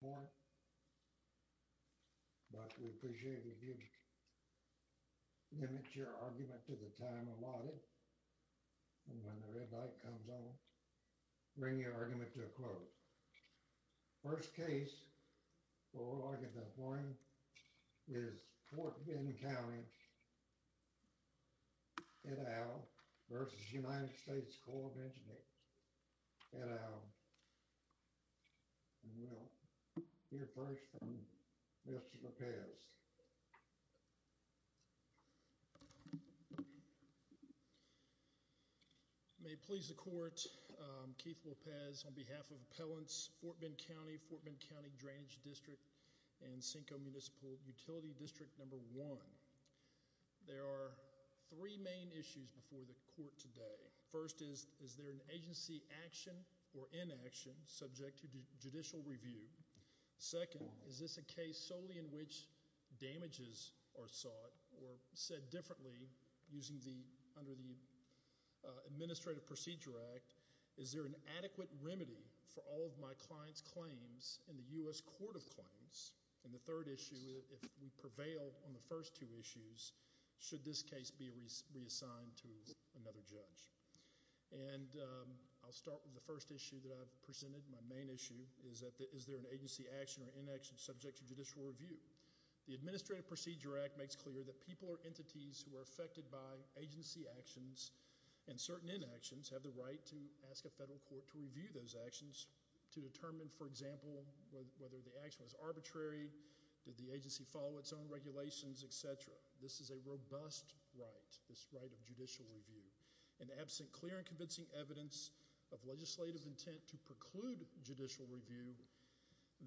of Engineers, Ed Au and Will. We appreciate you giving us your argument to the time allotted. And when the red light comes on, bring your argument to a close. First case for oral argument this morning is Ft Bend Cty v. US Army Corps of Engineers, Ed Au and Will. We'll hear first from Mr. Lopez. May it please the court, Keith Lopez on behalf of appellants Ft Bend Cty, Ft Bend Cty Drainage District and Senko Municipal Utility District No. 1. There are three main issues before the court today. First, is there an agency action or inaction subject to judicial review? Second, is this a case solely in which damages are sought or said differently under the Administrative Procedure Act? Is there an adequate remedy for all of my client's claims in the U.S. Court of Claims? And the third issue, if we prevail on the first two issues, should this case be reassigned to another judge? And I'll start with the first issue that I've presented. My main issue is that is there an agency action or inaction subject to judicial review? The Administrative Procedure Act makes clear that people or entities who are affected by agency actions and certain inactions have the right to ask a federal court to review those actions to determine, for example, whether the action was arbitrary, did the agency follow its own regulations, etc. This is a robust right, this right of judicial review. And absent clear and convincing evidence of legislative intent to preclude judicial review,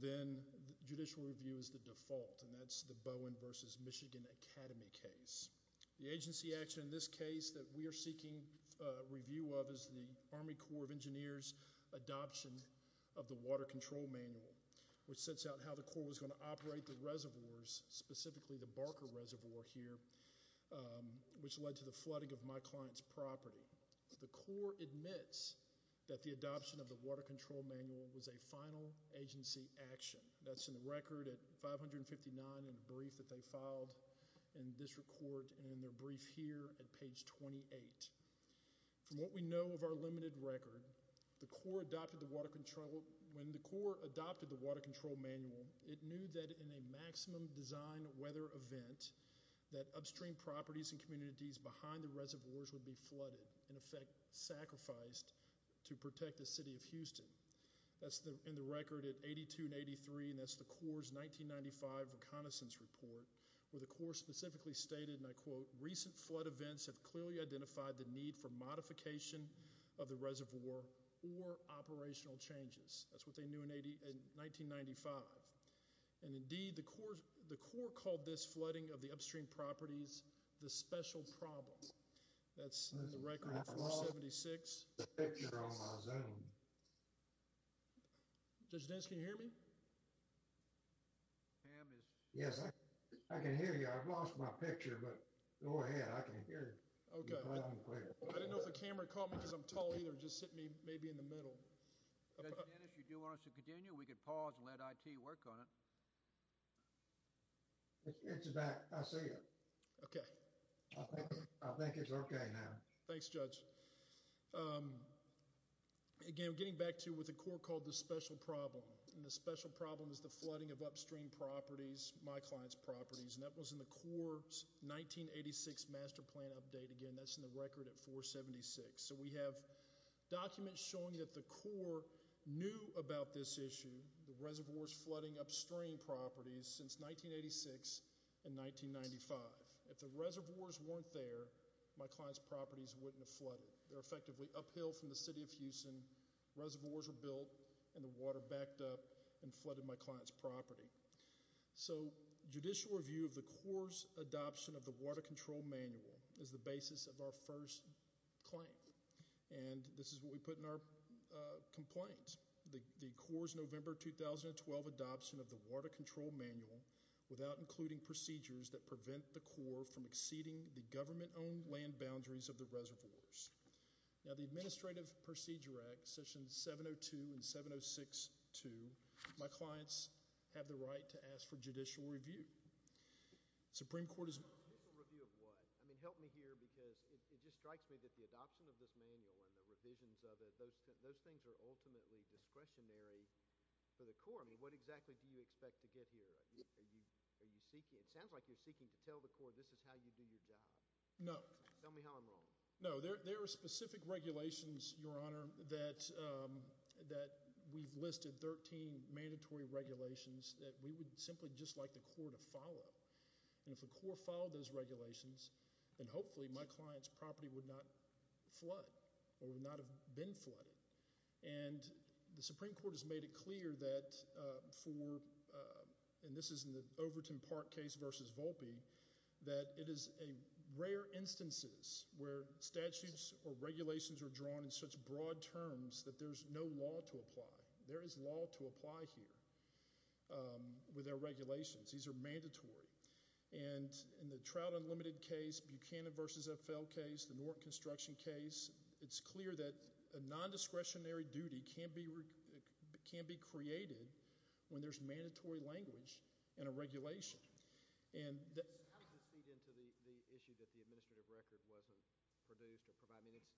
then judicial review is the default and that's the Bowen v. Michigan Academy case. The agency action in this case that we are seeking review of is the Army Corps of Engineers adoption of the Water Control Manual, which sets out how the Corps was going to operate the reservoirs, specifically the Barker Reservoir here, which led to the flooding of my client's property. The Corps admits that the adoption of the Water Control Manual was a final agency action. That's in the record at 559 in a brief that they filed in district court and in their brief here at page 28. From what we know of our limited record, when the Corps adopted the Water Control Manual, it knew that in a maximum design weather event that upstream properties and communities behind the reservoirs would be flooded, in effect sacrificed to protect the city of Houston. That's in the record at 82 and 83, and that's the Corps' 1995 reconnaissance report, where the Corps specifically stated, and I quote, recent flood events have clearly identified the need for modification of the reservoir or operational changes. That's what they knew in 1995. And indeed, the Corps called this flooding of the upstream properties the special problem. That's in the record at 476. Judge Dennis, can you hear me? Yes, I can hear you. I've lost my picture, but go ahead. I can hear you. Okay. I didn't know if the camera caught me because I'm tall either. It just sent me maybe in the middle. Judge Dennis, if you do want us to continue, we could pause and let IT work on it. It's back. I see it. Okay. I think it's okay now. Thanks, Judge. Again, getting back to what the Corps called the special problem, and the special problem is the flooding of upstream properties, my client's properties, and that was in the Corps' 1986 master plan update. Again, that's in the record at 476. So we have documents showing that the Corps knew about this issue, the reservoirs flooding upstream properties, since 1986 and 1995. If the reservoirs weren't there, my client's properties wouldn't have flooded. They're effectively uphill from the city of Houston, reservoirs were built, and the water backed up and flooded my client's property. So judicial review of the Corps' adoption of the Water Control Manual is the basis of our first claim, and this is what we put in our complaint, the Corps' November 2012 adoption of the Water Control Manual without including procedures that prevent the Corps from exceeding the government-owned land boundaries of the reservoirs. Now, the Administrative Procedure Act, Sessions 702 and 706-2, my clients have the right to ask for judicial review. Supreme Court is— Judicial review of what? I mean, help me here because it just strikes me that the adoption of this manual and the revisions of it, those things are ultimately discretionary for the Corps. I mean, what exactly do you expect to get here? It sounds like you're seeking to tell the Corps this is how you do your job. No. Tell me how I'm wrong. No, there are specific regulations, Your Honor, that we've listed 13 mandatory regulations that we would simply just like the Corps to follow. And if the Corps followed those regulations, then hopefully my client's property would not flood or would not have been flooded. And the Supreme Court has made it clear that for— and this is in the Overton Park case versus Volpe— that it is a rare instances where statutes or regulations are drawn in such broad terms that there's no law to apply. There is law to apply here with our regulations. These are mandatory. And in the Trout Unlimited case, Buchanan v. FL case, the Norton Construction case, it's clear that a nondiscretionary duty can be created when there's mandatory language in a regulation. And that's— How does this feed into the issue that the administrative record wasn't produced or provided? I mean, it's—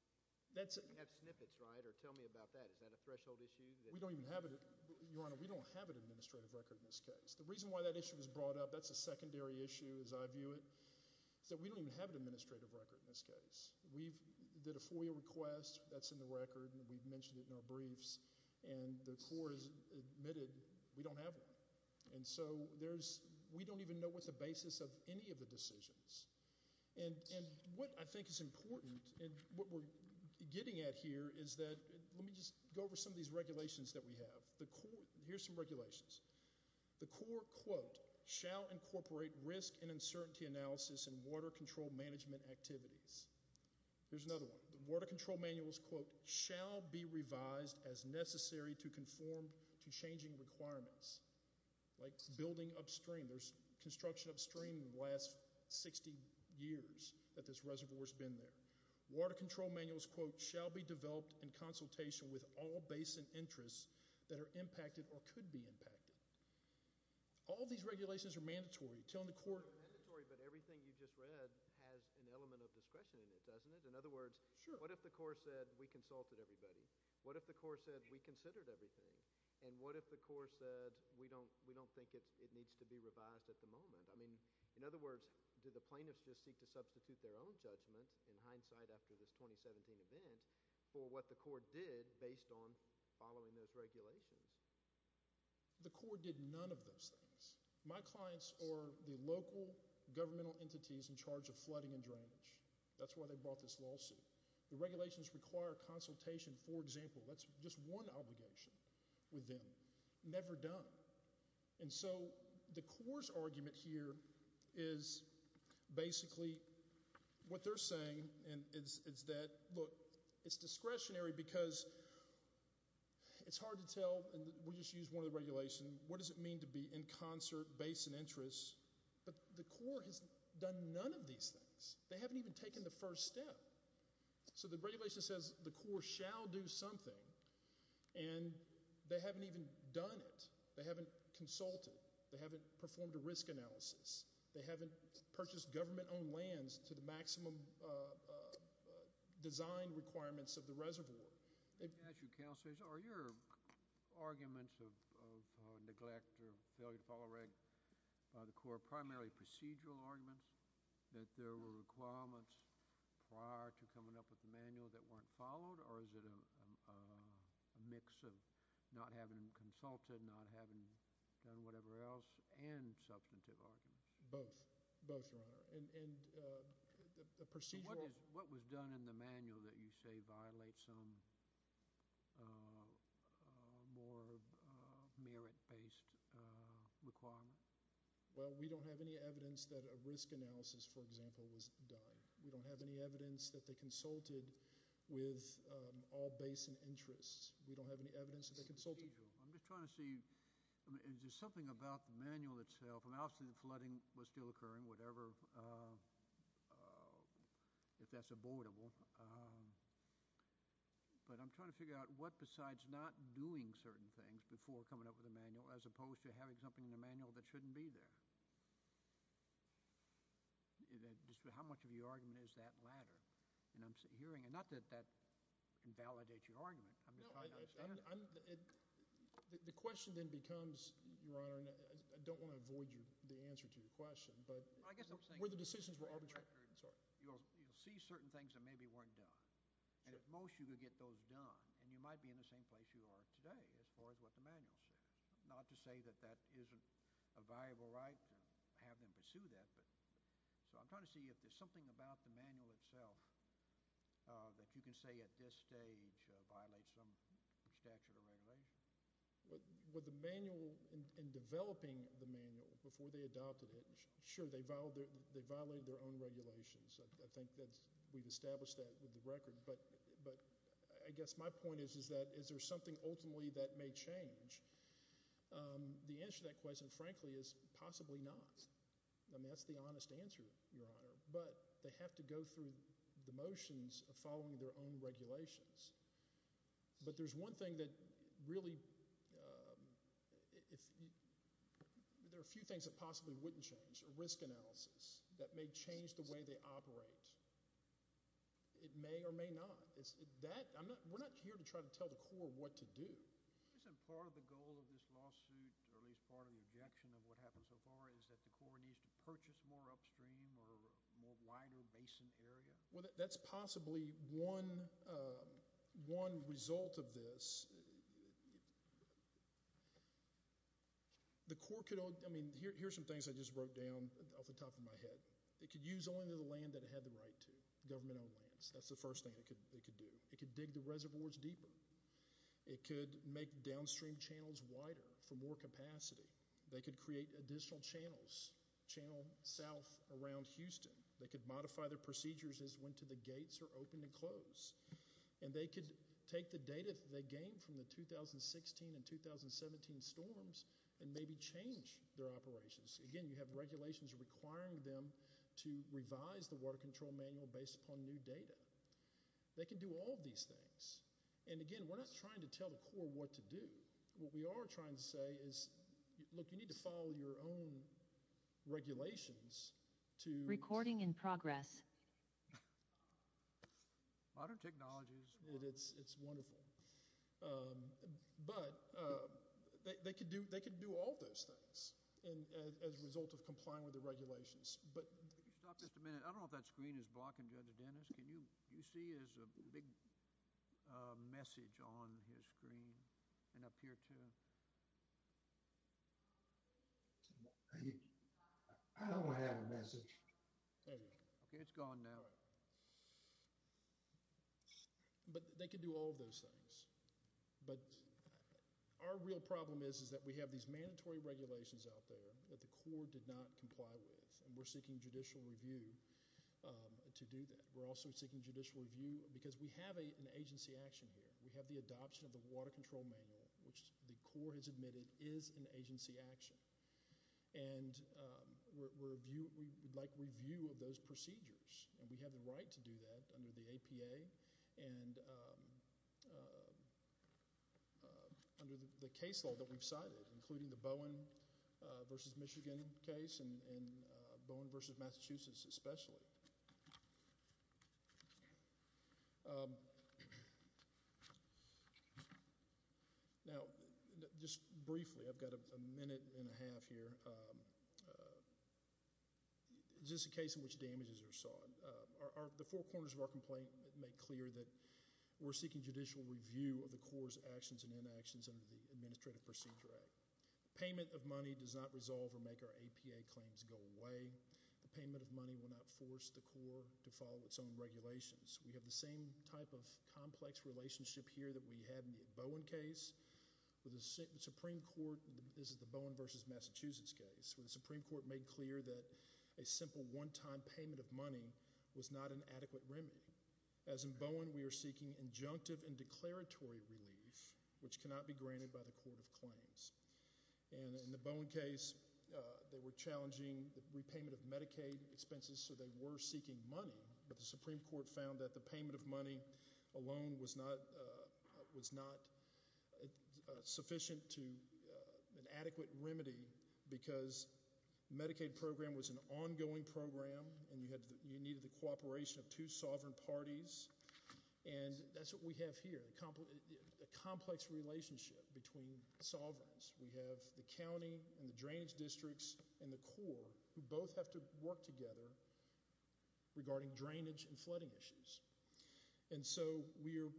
That's— You have snippets, right? Or tell me about that. Is that a threshold issue that— We don't even have it. Your Honor, we don't have an administrative record in this case. The reason why that issue was brought up, that's a secondary issue as I view it, is that we don't even have an administrative record in this case. We've did a FOIA request. That's in the record. We've mentioned it in our briefs. And the Corps has admitted we don't have one. And so there's—we don't even know what's the basis of any of the decisions. And what I think is important and what we're getting at here is that— Let me just go over some of these regulations that we have. Here's some regulations. The Corps, quote, shall incorporate risk and uncertainty analysis in water control management activities. Here's another one. The water control manuals, quote, shall be revised as necessary to conform to changing requirements. Like building upstream. There's construction upstream in the last 60 years that this reservoir's been there. Water control manuals, quote, shall be developed in consultation with all basin interests that are impacted or could be impacted. All these regulations are mandatory. Telling the Corps— They're mandatory, but everything you just read has an element of discretion in it, doesn't it? In other words, what if the Corps said we consulted everybody? What if the Corps said we considered everything? And what if the Corps said we don't think it needs to be revised at the moment? I mean, in other words, do the plaintiffs just seek to substitute their own judgment in hindsight after this 2017 event for what the Corps did based on following those regulations? The Corps did none of those things. My clients are the local governmental entities in charge of flooding and drainage. That's why they brought this lawsuit. The regulations require consultation, for example. That's just one obligation with them. Never done. And so the Corps' argument here is basically what they're saying, and it's that, look, it's discretionary because it's hard to tell— and we'll just use one of the regulations— what does it mean to be in concert basin interests? But the Corps has done none of these things. They haven't even taken the first step. So the regulation says the Corps shall do something, and they haven't even done it. They haven't consulted. They haven't performed a risk analysis. They haven't purchased government-owned lands to the maximum design requirements of the reservoir. Can I ask you, Counselors, are your arguments of neglect or failure to follow regulations by the Corps primarily procedural arguments, that there were requirements prior to coming up with the manual that weren't followed, or is it a mix of not having consulted, not having done whatever else, and substantive arguments? Both. Both, Your Honor. And the procedural— What was done in the manual that you say violates some more merit-based requirement? Well, we don't have any evidence that a risk analysis, for example, was done. We don't have any evidence that they consulted with all basin interests. We don't have any evidence that they consulted. I'm just trying to see, is there something about the manual itself? Obviously the flooding was still occurring, whatever, if that's abortable. But I'm trying to figure out what besides not doing certain things before coming up with a manual, as opposed to having something in the manual that shouldn't be there. How much of your argument is that latter? And I'm hearing—and not that that invalidates your argument. No, I'm—the question then becomes, Your Honor, and I don't want to avoid the answer to your question, but were the decisions were arbitrary? You'll see certain things that maybe weren't done, and at most you could get those done, and you might be in the same place you are today as far as what the manual says. Not to say that that isn't a viable right to have them pursue that. So I'm trying to see if there's something about the manual itself that you can say at this stage violates some statute or regulation. With the manual, in developing the manual before they adopted it, sure, they violated their own regulations. I think that we've established that with the record. But I guess my point is that is there something ultimately that may change? The answer to that question, frankly, is possibly not. I mean, that's the honest answer, Your Honor. But they have to go through the motions of following their own regulations. But there's one thing that really— there are a few things that possibly wouldn't change, a risk analysis, that may change the way they operate. It may or may not. We're not here to try to tell the Corps what to do. Isn't part of the goal of this lawsuit, or at least part of the objection of what happened so far, is that the Corps needs to purchase more upstream or more wider basin area? Well, that's possibly one result of this. The Corps could—I mean, here are some things I just wrote down off the top of my head. It could use only the land that it had the right to, government-owned lands. That's the first thing it could do. It could dig the reservoirs deeper. It could make downstream channels wider for more capacity. They could create additional channels, channel south around Houston. They could modify their procedures as to when the gates are open and closed. And they could take the data they gained from the 2016 and 2017 storms and maybe change their operations. Again, you have regulations requiring them to revise the Water Control Manual based upon new data. They could do all of these things. And, again, we're not trying to tell the Corps what to do. What we are trying to say is, look, you need to follow your own regulations to— Recording in progress. Modern technologies. It's wonderful. But they could do all of those things. As a result of complying with the regulations. Could you stop just a minute? I don't know if that screen is blocking Judge Dennis. Can you see his big message on his screen and up here too? I don't have a message. Okay, it's gone now. But they could do all of those things. But our real problem is that we have these mandatory regulations out there that the Corps did not comply with. And we're seeking judicial review to do that. We're also seeking judicial review because we have an agency action here. We have the adoption of the Water Control Manual, which the Corps has admitted is an agency action. And we would like review of those procedures. And we have the right to do that under the APA and under the case law that we've cited, including the Bowen v. Michigan case and Bowen v. Massachusetts especially. Now, just briefly, I've got a minute and a half here. Is this a case in which damages are sought? The four corners of our complaint make clear that we're seeking judicial review of the Corps' actions and inactions under the Administrative Procedure Act. Payment of money does not resolve or make our APA claims go away. The payment of money will not force the Corps to follow its own regulations. We have the same type of complex relationship here that we had in the Bowen case. The Supreme Court, this is the Bowen v. Massachusetts case, where the Supreme Court made clear that a simple one-time payment of money was not an adequate remedy. As in Bowen, we are seeking injunctive and declaratory relief, which cannot be granted by the Court of Claims. And in the Bowen case, they were challenging the repayment of Medicaid expenses, so they were seeking money. But the Supreme Court found that the payment of money alone was not sufficient to an adequate remedy because Medicaid program was an ongoing program and you needed the cooperation of two sovereign parties. And that's what we have here, a complex relationship between sovereigns. We have the county and the drainage districts and the Corps who both have to work together regarding drainage and flooding issues. And so we are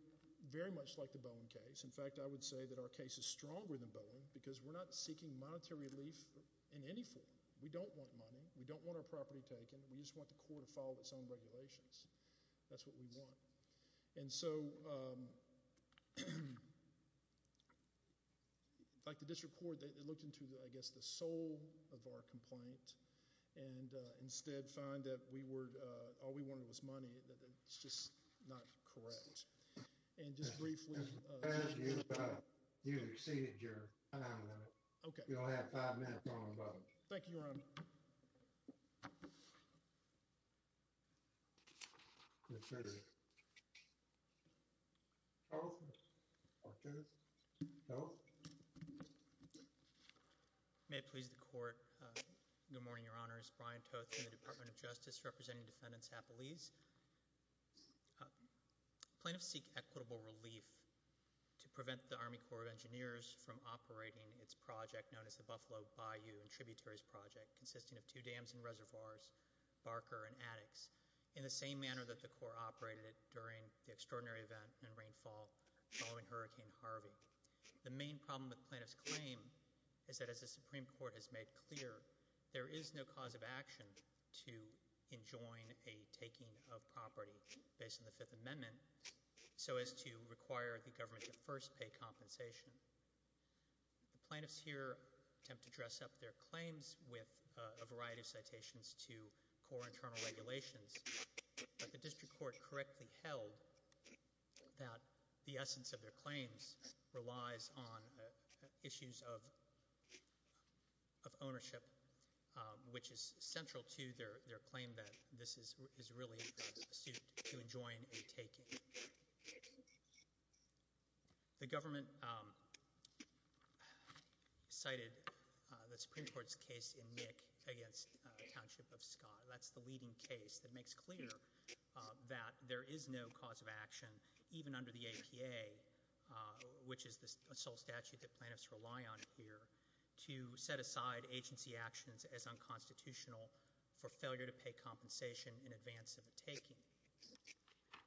very much like the Bowen case. In fact, I would say that our case is stronger than Bowen because we're not seeking monetary relief in any form. We don't want money. We don't want our property taken. We just want the Corps to follow its own regulations. That's what we want. And so, like the district court, they looked into, I guess, the soul of our complaint and instead found that all we wanted was money, that it's just not correct. And just briefly— You exceeded your time limit. Okay. You only have five minutes on the vote. Thank you, Your Honor. Brian Toth. Toth? Toth? Toth? May it please the Court, good morning, Your Honors. Brian Toth from the Department of Justice representing Defendant Zappolis. Plaintiffs seek equitable relief to prevent the Army Corps of Engineers from operating its project, known as the Buffalo Bayou and Tributaries Project, consisting of two dams and reservoirs, Barker and Attucks, in the same manner that the Corps operated it during the extraordinary event in rainfall following Hurricane Harvey. The main problem with the plaintiff's claim is that, as the Supreme Court has made clear, there is no cause of action to enjoin a taking of property based on the Fifth Amendment so as to require the government to first pay compensation. The plaintiffs here attempt to dress up their claims with a variety of citations to Corps internal regulations, but the district court correctly held that the essence of their claims relies on issues of ownership, which is central to their claim that this is really a suit to enjoin a taking. The government cited the Supreme Court's case in Nick against Township of Scott. That's the leading case that makes clear that there is no cause of action, even under the APA, which is the sole statute that plaintiffs rely on here, to set aside agency actions as unconstitutional for failure to pay compensation in advance of a taking.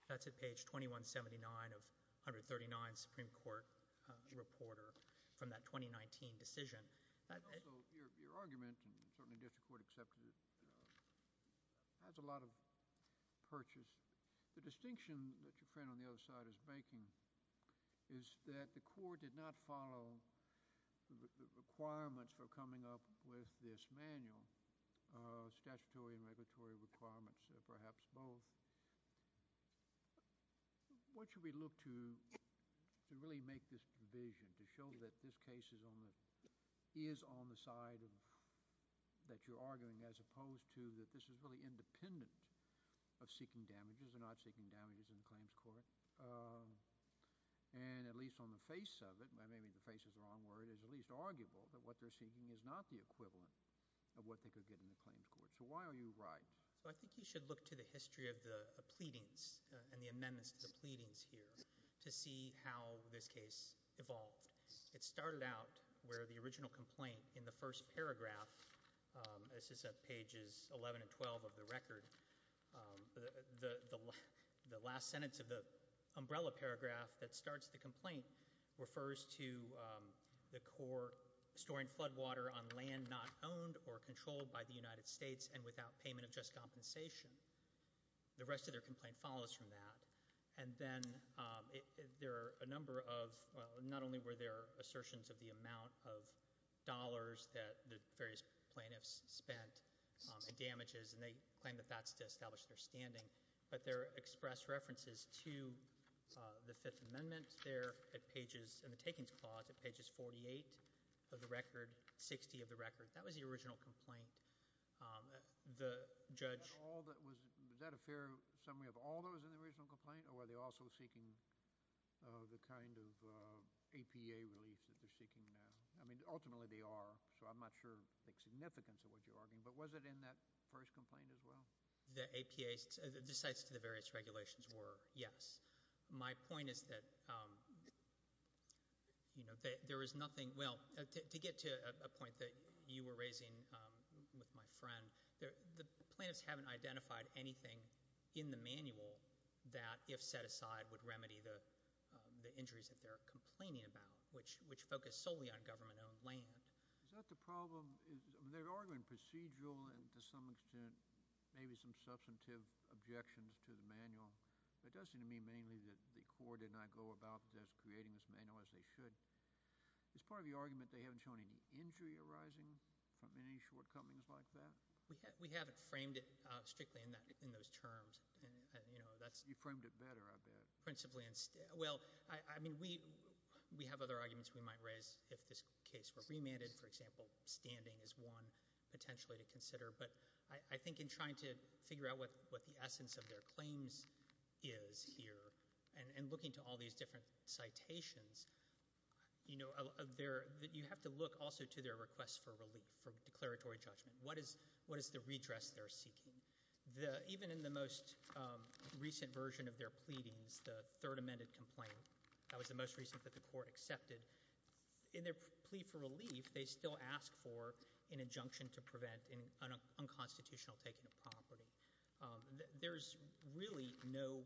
That's at page 2179 of 139, Supreme Court reporter from that 2019 decision. Also, your argument, and certainly district court accepted it, has a lot of purchase. The distinction that your friend on the other side is making is that the Corps did not follow the requirements for coming up with this manual, statutory and regulatory requirements, perhaps both. What should we look to to really make this provision, to show that this case is on the side that you're arguing, as opposed to that this is really independent of seeking damages or not seeking damages in the claims court, and at least on the face of it, maybe the face is the wrong word, is at least arguable that what they're seeking is not the equivalent of what they could get in the claims court. So why are you right? I think you should look to the history of the pleadings and the amendments to the pleadings here to see how this case evolved. It started out where the original complaint in the first paragraph, this is at pages 11 and 12 of the record, the last sentence of the umbrella paragraph that starts the complaint refers to the Corps storing flood water on land not owned or controlled by the United States and without payment of just compensation. The rest of their complaint follows from that. And then there are a number of, not only were there assertions of the amount of dollars that the various plaintiffs spent and damages, and they claim that that's to establish their standing, but there are expressed references to the Fifth Amendment there at pages, in the takings clause at pages 48 of the record, 60 of the record. That was the original complaint. The judge- Was that a fair summary of all those in the original complaint, or were they also seeking the kind of APA relief that they're seeking now? I mean, ultimately they are, so I'm not sure of the significance of what you're arguing, but was it in that first complaint as well? The APA, the sites to the various regulations were, yes. My point is that there is nothing, well, to get to a point that you were raising with my friend, the plaintiffs haven't identified anything in the manual that, if set aside, would remedy the injuries that they're complaining about, which focus solely on government-owned land. Is that the problem? They're arguing procedural and, to some extent, maybe some substantive objections to the manual, but it does seem to me mainly that the court did not go about creating this manual as they should. As part of the argument, they haven't shown any injury arising from any shortcomings like that? We haven't framed it strictly in those terms. You framed it better, I bet. Well, I mean, we have other arguments we might raise if this case were remanded. For example, standing is one potentially to consider, but I think in trying to figure out what the essence of their claims is here and looking to all these different citations, you have to look also to their requests for relief, for declaratory judgment. What is the redress they're seeking? Even in the most recent version of their pleadings, the third amended complaint, that was the most recent that the court accepted, in their plea for relief, they still ask for an injunction to prevent an unconstitutional taking of property. There's really no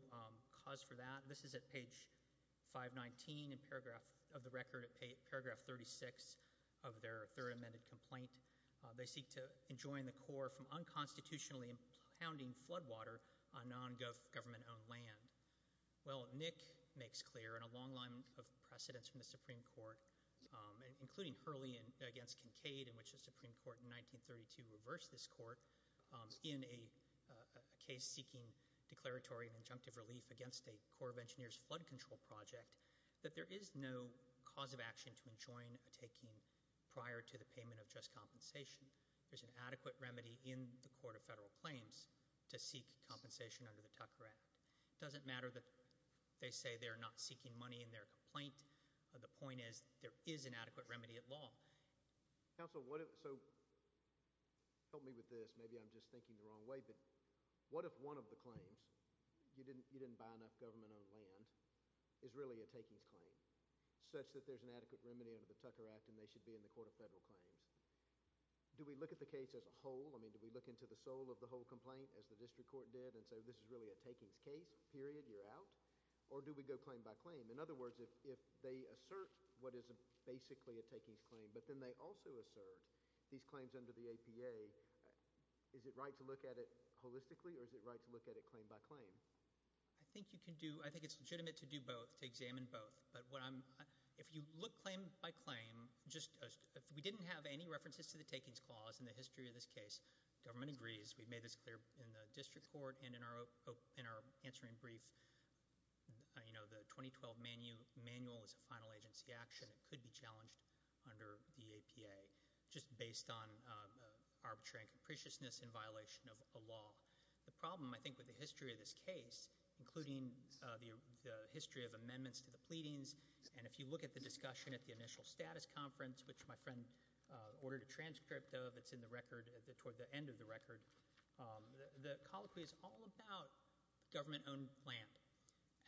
cause for that. This is at page 519 of the record, at paragraph 36 of their third amended complaint. They seek to enjoin the Corps from unconstitutionally impounding flood water on non-government-owned land. Well, Nick makes clear in a long line of precedents from the Supreme Court, including Hurley against Kincaid, in which the Supreme Court in 1932 reversed this court, in a case seeking declaratory and injunctive relief against a Corps of Engineers flood control project, that there is no cause of action to enjoin a taking prior to the payment of just compensation. There's an adequate remedy in the Court of Federal Claims to seek compensation under the Tucker Act. It doesn't matter that they say they're not seeking money in their complaint. The point is there is an adequate remedy at law. Counsel, so help me with this. Maybe I'm just thinking the wrong way, but what if one of the claims, you didn't buy enough government-owned land, is really a takings claim, such that there's an adequate remedy under the Tucker Act and they should be in the Court of Federal Claims? Do we look at the case as a whole? I mean, do we look into the soul of the whole complaint, as the district court did, and say this is really a takings case, period, you're out? Or do we go claim by claim? In other words, if they assert what is basically a takings claim, but then they also assert these claims under the APA, is it right to look at it holistically, or is it right to look at it claim by claim? I think it's legitimate to do both, to examine both. But if you look claim by claim, if we didn't have any references to the takings clause in the history of this case, government agrees, we've made this clear in the district court, and in our answering brief, the 2012 manual is a final agency action. It could be challenged under the APA, just based on arbitrary and capriciousness in violation of a law. The problem, I think, with the history of this case, including the history of amendments to the pleadings, and if you look at the discussion at the initial status conference, which my friend ordered a transcript of, it's in the record, toward the end of the record, the colloquy is all about government-owned land.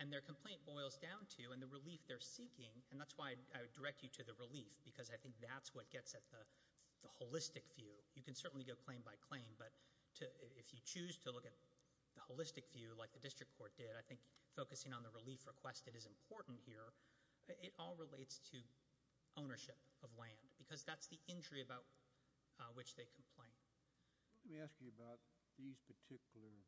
And their complaint boils down to, and the relief they're seeking, and that's why I would direct you to the relief, because I think that's what gets at the holistic view. You can certainly go claim by claim, but if you choose to look at the holistic view, like the district court did, I think focusing on the relief requested is important here. It all relates to ownership of land, because that's the injury about which they complain. Let me ask you about these particular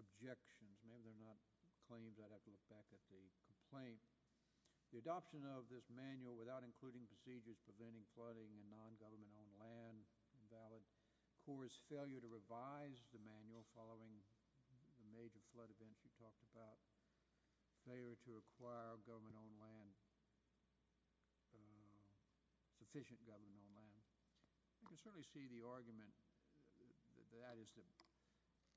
objections. Maybe they're not claims. I'd have to look back at the complaint. The adoption of this manual without including procedures preventing flooding in non-government-owned land, invalid course, failure to revise the manual following the major flood events you talked about, failure to acquire government-owned land, sufficient government-owned land. I can certainly see the argument that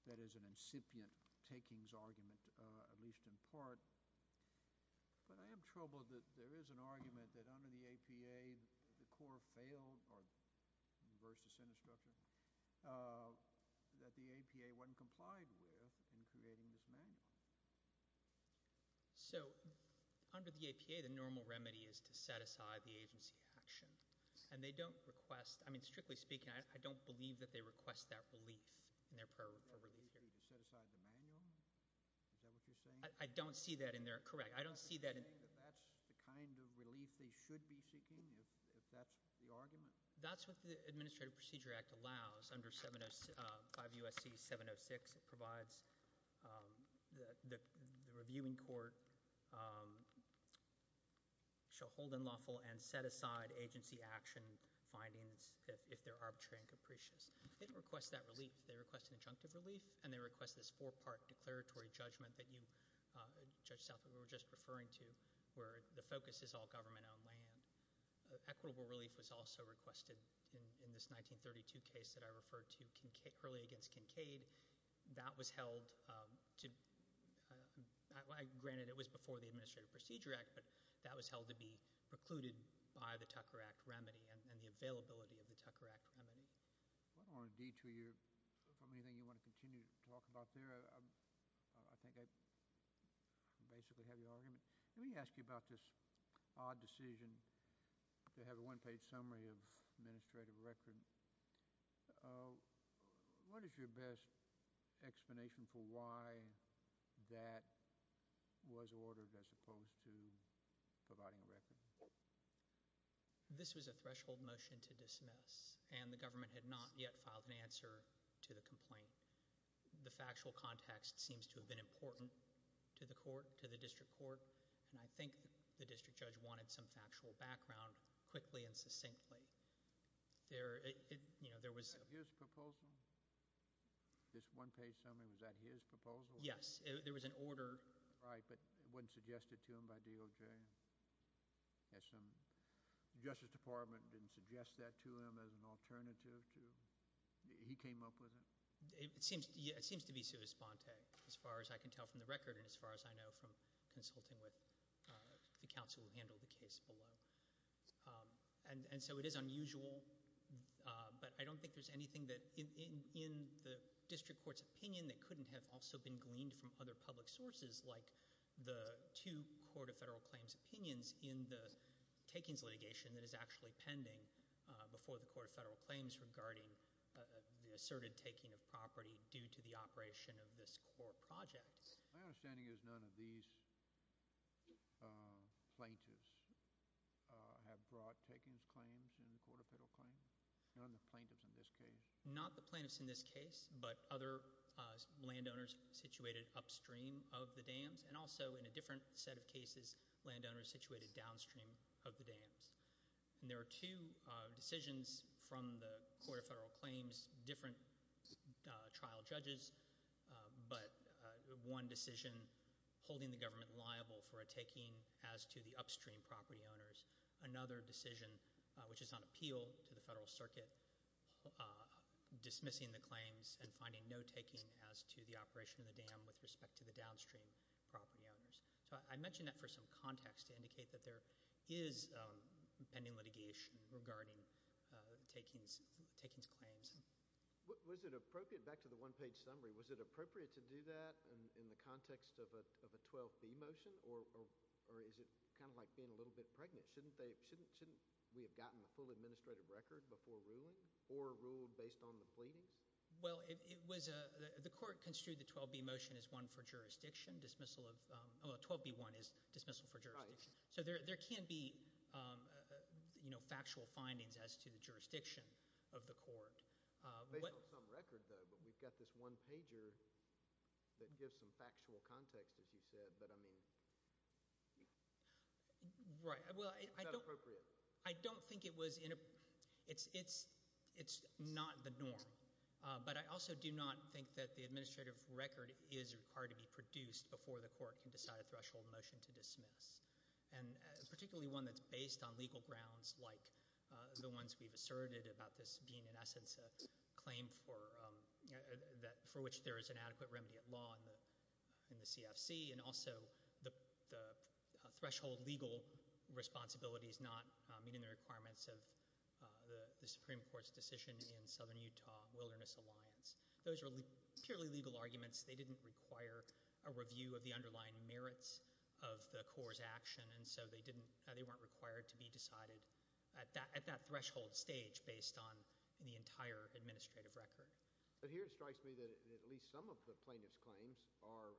that is an incipient takings argument, at least in part. But I am troubled that there is an argument that under the APA, the Corps failed, or versus the Senate structure, that the APA wasn't complied with in creating this manual. So under the APA, the normal remedy is to set aside the agency action, and they don't request, I mean, strictly speaking, I don't believe that they request that relief in their prayer for relief here. You want the APA to set aside the manual? Is that what you're saying? I don't see that in there. Correct. I don't see that in there. Are you saying that that's the kind of relief they should be seeking, if that's the argument? That's what the Administrative Procedure Act allows under 5 U.S.C. 706. It provides the reviewing court shall hold unlawful and set aside agency action findings if they're arbitrary and capricious. They don't request that relief. They request an adjunctive relief, and they request this four-part declaratory judgment that you, Judge Southwood, were just referring to, where the focus is all government-owned land. Equitable relief was also requested in this 1932 case that I referred to early against Kincaid. That was held to ñ granted it was before the Administrative Procedure Act, but that was held to be precluded by the Tucker Act remedy and the availability of the Tucker Act remedy. I don't want to detour you from anything you want to continue to talk about there. I think I basically have your argument. Let me ask you about this odd decision to have a one-page summary of administrative record. What is your best explanation for why that was ordered as opposed to providing a record? This was a threshold motion to dismiss, and the government had not yet filed an answer to the complaint. The factual context seems to have been important to the court, to the district court, and I think the district judge wanted some factual background quickly and succinctly. There was ñ Was that his proposal, this one-page summary? Was that his proposal? Yes. There was an order. Right, but it wasn't suggested to him by DOJ? The Justice Department didn't suggest that to him as an alternative to ñ he came up with it? It seems to be sui sponte, as far as I can tell from the record and as far as I know from consulting with the counsel who handled the case below. And so it is unusual, but I don't think there's anything in the district court's opinion that couldn't have also been gleaned from other public sources like the two Court of Federal Claims opinions in the takings litigation that is actually pending before the Court of Federal Claims regarding the asserted taking of property due to the operation of this core project. My understanding is none of these plaintiffs have brought takings claims in the Court of Federal Claims? None of the plaintiffs in this case? Not the plaintiffs in this case, but other landowners situated upstream of the dams and also in a different set of cases landowners situated downstream of the dams. And there are two decisions from the Court of Federal Claims, different trial judges, but one decision holding the government liable for a taking as to the upstream property owners. Another decision, which is on appeal to the Federal Circuit, dismissing the claims and finding no taking as to the operation of the dam with respect to the downstream property owners. So I mention that for some context to indicate that there is pending litigation regarding takings claims. Was it appropriate, back to the one-page summary, was it appropriate to do that in the context of a 12b motion or is it kind of like being a little bit pregnant? Shouldn't we have gotten the full administrative record before ruling or ruled based on the pleadings? Well, the court construed the 12b motion as one for jurisdiction, dismissal of – so there can be factual findings as to the jurisdiction of the court. Based on some record, though, but we've got this one pager that gives some factual context, as you said. But I mean, is that appropriate? I don't think it was – it's not the norm. But I also do not think that the administrative record is required to be produced before the court can decide a threshold motion to dismiss, and particularly one that's based on legal grounds like the ones we've asserted about this being, in essence, a claim for which there is an adequate remedy at law in the CFC and also the threshold legal responsibilities not meeting the requirements of the Supreme Court's decision in Southern Utah Wilderness Alliance. Those are purely legal arguments. They didn't require a review of the underlying merits of the court's action, and so they weren't required to be decided at that threshold stage based on the entire administrative record. But here it strikes me that at least some of the plaintiff's claims are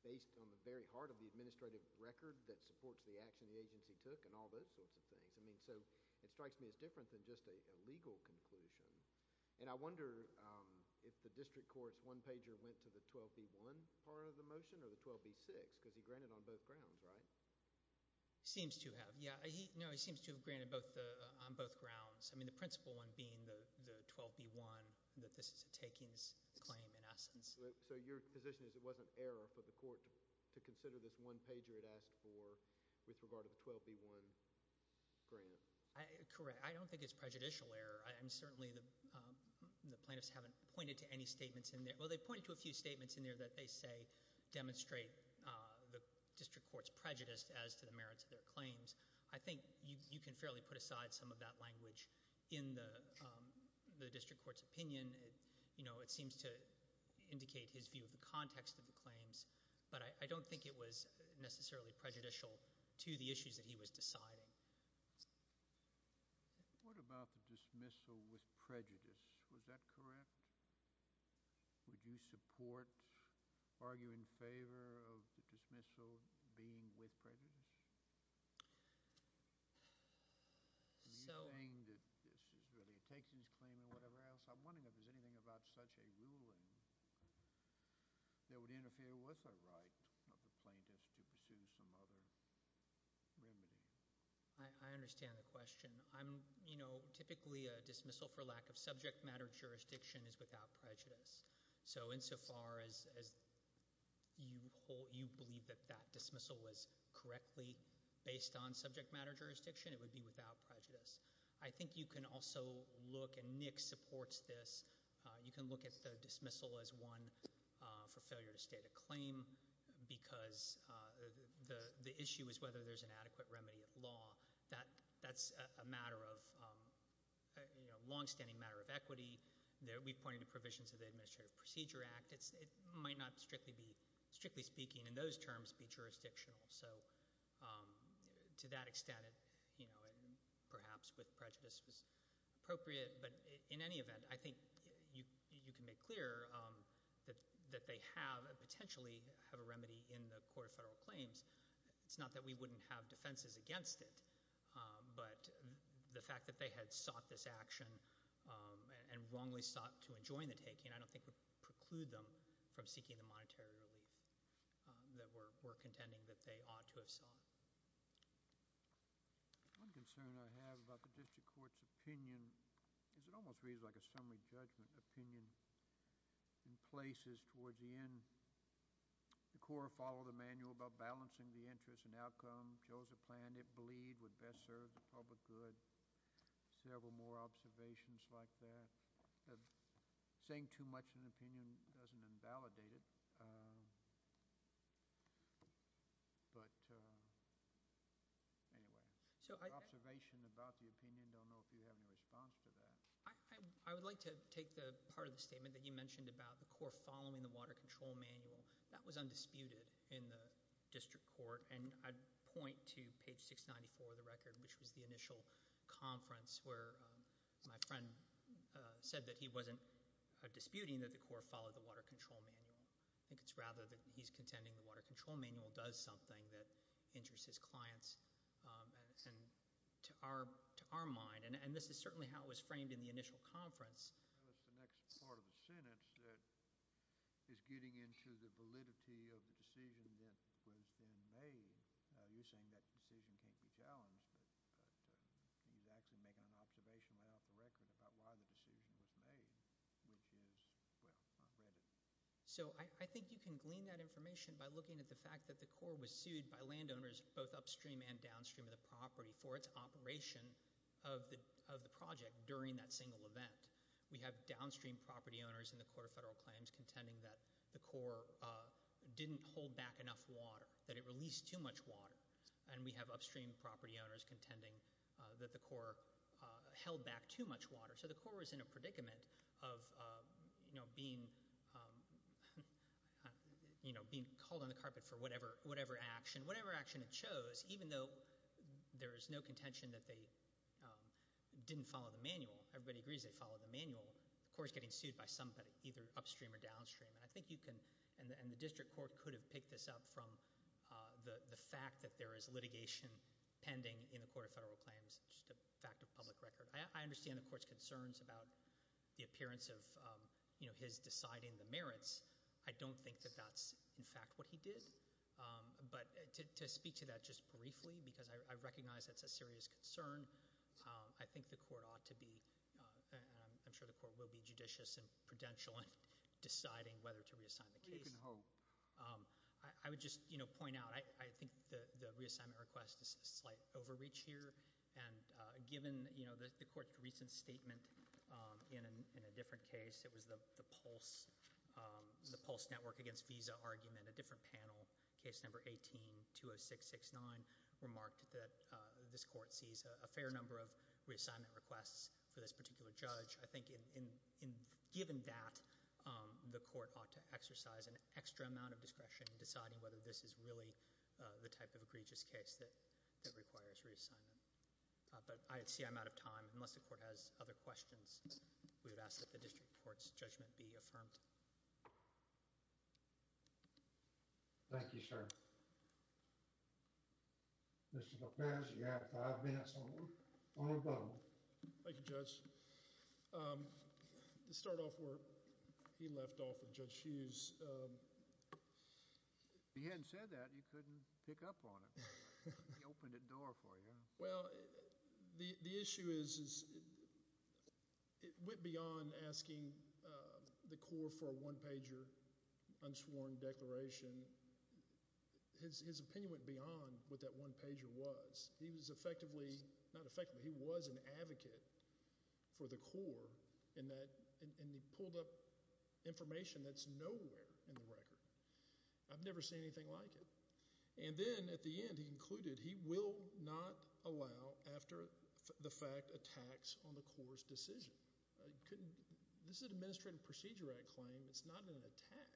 based on the very heart of the administrative record that supports the action the agency took and all those sorts of things. I mean, so it strikes me as different than just a legal conclusion. And I wonder if the district court's one-pager went to the 12b-1 part of the motion or the 12b-6 because he granted on both grounds, right? Seems to have, yeah. No, he seems to have granted on both grounds. I mean, the principal one being the 12b-1 that this is a takings claim in essence. So your position is it wasn't error for the court to consider this one-pager it asked for with regard to the 12b-1 grant? Correct. I don't think it's prejudicial error. Certainly the plaintiffs haven't pointed to any statements in there. Well, they pointed to a few statements in there that they say demonstrate the district court's prejudice as to the merits of their claims. I think you can fairly put aside some of that language in the district court's opinion. It seems to indicate his view of the context of the claims, but I don't think it was necessarily prejudicial to the issues that he was deciding. What about the dismissal with prejudice? Was that correct? Would you support, argue in favor of the dismissal being with prejudice? So— Are you saying that this is really a takings claim or whatever else? I'm wondering if there's anything about such a ruling that would interfere with the right of the plaintiffs to pursue some other remedy. I understand the question. Typically a dismissal for lack of subject matter jurisdiction is without prejudice. So insofar as you believe that that dismissal was correctly based on subject matter jurisdiction, it would be without prejudice. I think you can also look, and Nick supports this, you can look at the dismissal as one for failure to state a claim because the issue is whether there's an adequate remedy of law. That's a matter of, you know, longstanding matter of equity. We pointed to provisions of the Administrative Procedure Act. It might not strictly be, strictly speaking in those terms, be jurisdictional. So to that extent, you know, perhaps with prejudice was appropriate. But in any event, I think you can make clear that they have, potentially have a remedy in the Court of Federal Claims. It's not that we wouldn't have defenses against it, but the fact that they had sought this action and wrongly sought to enjoin the taking, I don't think would preclude them from seeking the monetary relief that we're contending that they ought to have sought. One concern I have about the district court's opinion is it almost reads like a summary judgment opinion. In places towards the end, the court followed the manual about balancing the interest and outcome, chose a plan it believed would best serve the public good. Several more observations like that. Saying too much in an opinion doesn't invalidate it. But anyway, observation about the opinion, don't know if you have any response to that. I would like to take the part of the statement that you mentioned about the court following the water control manual. That was undisputed in the district court, and I'd point to page 694 of the record, which was the initial conference where my friend said that he wasn't disputing that the court followed the water control manual. I think it's rather that he's contending the water control manual does something that interests his clients. And to our mind, and this is certainly how it was framed in the initial conference. That was the next part of the sentence that is getting into the validity of the decision that was then made. You're saying that decision can't be challenged, but he's actually making an observation without the record about why the decision was made, which is, well, I read it. So I think you can glean that information by looking at the fact that the court was sued by landowners both upstream and downstream of the property for its operation of the project during that single event. We have downstream property owners in the Court of Federal Claims contending that the court didn't hold back enough water, that it released too much water. And we have upstream property owners contending that the court held back too much water. So the court was in a predicament of being called on the carpet for whatever action it chose, even though there is no contention that they didn't follow the manual. Everybody agrees they followed the manual. The court is getting sued by somebody either upstream or downstream. And I think you can, and the district court could have picked this up from the fact that there is litigation pending in the Court of Federal Claims. It's just a fact of public record. I understand the court's concerns about the appearance of his deciding the merits. I don't think that that's, in fact, what he did. But to speak to that just briefly, because I recognize that's a serious concern. I think the court ought to be, and I'm sure the court will be, judicious and prudential in deciding whether to reassign the case. We can hope. I would just point out, I think the reassignment request is a slight overreach here. And given the court's recent statement in a different case, it was the Pulse Network against Visa argument, a different panel, case number 18-20669, remarked that this court sees a fair number of reassignment requests for this particular judge. I think given that, the court ought to exercise an extra amount of discretion in deciding whether this is really the type of egregious case that requires reassignment. But I see I'm out of time. Unless the court has other questions, we would ask that the district court's judgment be affirmed. Thank you, sir. Mr. Bocchetti, you have five minutes on the vote. Thank you, Judge. To start off where he left off with Judge Hughes. If he hadn't said that, you couldn't pick up on it. He opened the door for you. Well, the issue is it went beyond asking the court for a one-pager unsworn declaration. His opinion went beyond what that one-pager was. He was effectively, not effectively, he was an advocate for the court, and he pulled up information that's nowhere in the record. I've never seen anything like it. And then, at the end, he included he will not allow, after the fact, a tax on the court's decision. This is an Administrative Procedure Act claim. It's not an attack.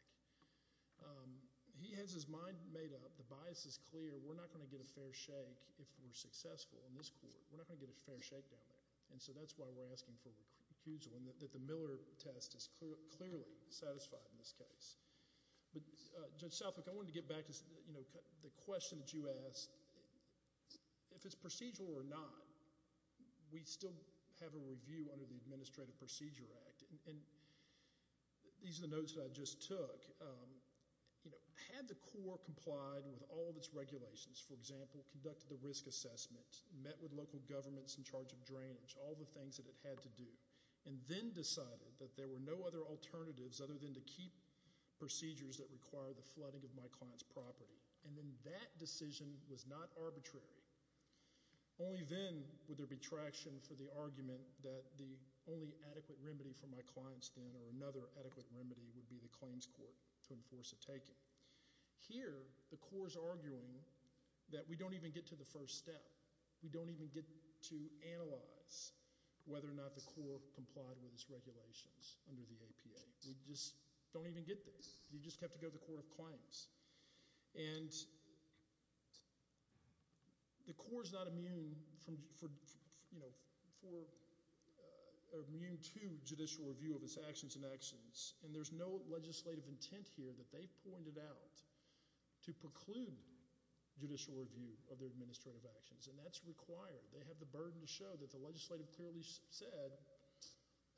He has his mind made up. The bias is clear. We're not going to get a fair shake if we're successful in this court. We're not going to get a fair shake down there. And so that's why we're asking for recusal and that the Miller test is clearly satisfied in this case. But, Judge Southwick, I wanted to get back to the question that you asked. If it's procedural or not, we still have a review under the Administrative Procedure Act. And these are the notes that I just took. You know, had the court complied with all of its regulations, for example, conducted the risk assessment, met with local governments in charge of drainage, all the things that it had to do, and then decided that there were no other alternatives other than to keep procedures that require the flooding of my client's property, and then that decision was not arbitrary, only then would there be traction for the argument that the only adequate remedy for my client's then or another adequate remedy would be the claims court to enforce a taking. Here, the court is arguing that we don't even get to the first step. We don't even get to analyze whether or not the court complied with its regulations under the APA. We just don't even get this. You just have to go to the court of claims. And the court is not immune to judicial review of its actions and actions, and there's no legislative intent here that they've pointed out to preclude judicial review of their administrative actions, and that's required. They have the burden to show that the legislative clearly said,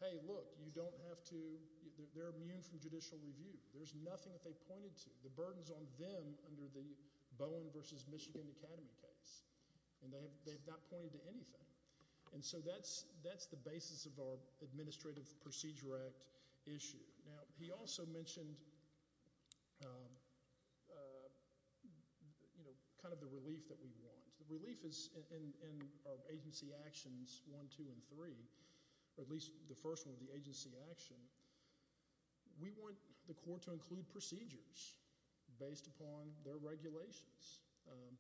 hey, look, you don't have to – they're immune from judicial review. There's nothing that they pointed to. The burden's on them under the Bowen v. Michigan Academy case, and they have not pointed to anything. And so that's the basis of our Administrative Procedure Act issue. Now, he also mentioned kind of the relief that we want. The relief is in our agency actions one, two, and three, or at least the first one, the agency action. We want the court to include procedures based upon their regulations, and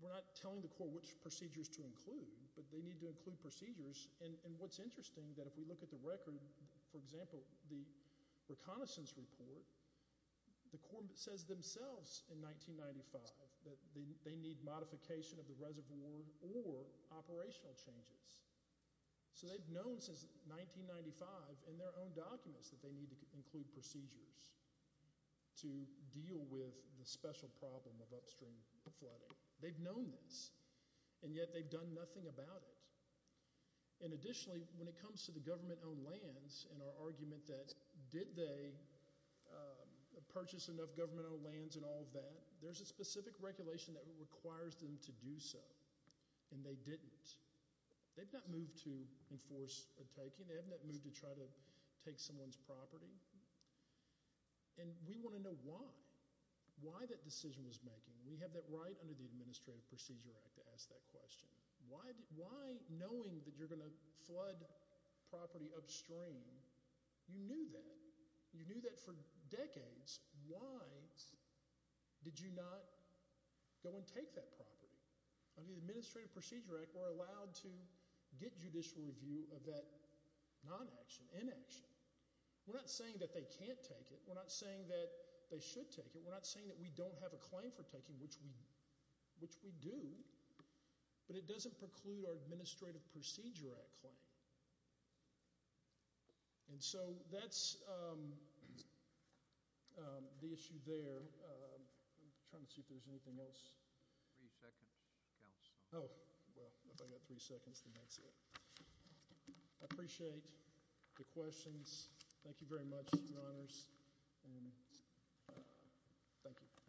we're not telling the court which procedures to include, but they need to include procedures. And what's interesting, that if we look at the record, for example, the reconnaissance report, the court says themselves in 1995 that they need modification of the reservoir or operational changes. So they've known since 1995 in their own documents that they need to include procedures to deal with the special problem of upstream flooding. They've known this, and yet they've done nothing about it. And additionally, when it comes to the government-owned lands and our argument that, did they purchase enough government-owned lands and all of that, there's a specific regulation that requires them to do so, and they didn't. They've not moved to enforce a taking. They have not moved to try to take someone's property. And we want to know why, why that decision was making. We have that right under the Administrative Procedure Act to ask that question. Why, knowing that you're going to flood property upstream, you knew that. You knew that for decades. Why did you not go and take that property? Under the Administrative Procedure Act, we're allowed to get judicial review of that non-action, inaction. We're not saying that they can't take it. We're not saying that they should take it. We're not saying that we don't have a claim for taking, which we do, but it doesn't preclude our Administrative Procedure Act claim. And so that's the issue there. I'm trying to see if there's anything else. Three seconds, counsel. Oh, well, if I've got three seconds, then that's it. I appreciate the questions. Thank you very much, Your Honors, and thank you.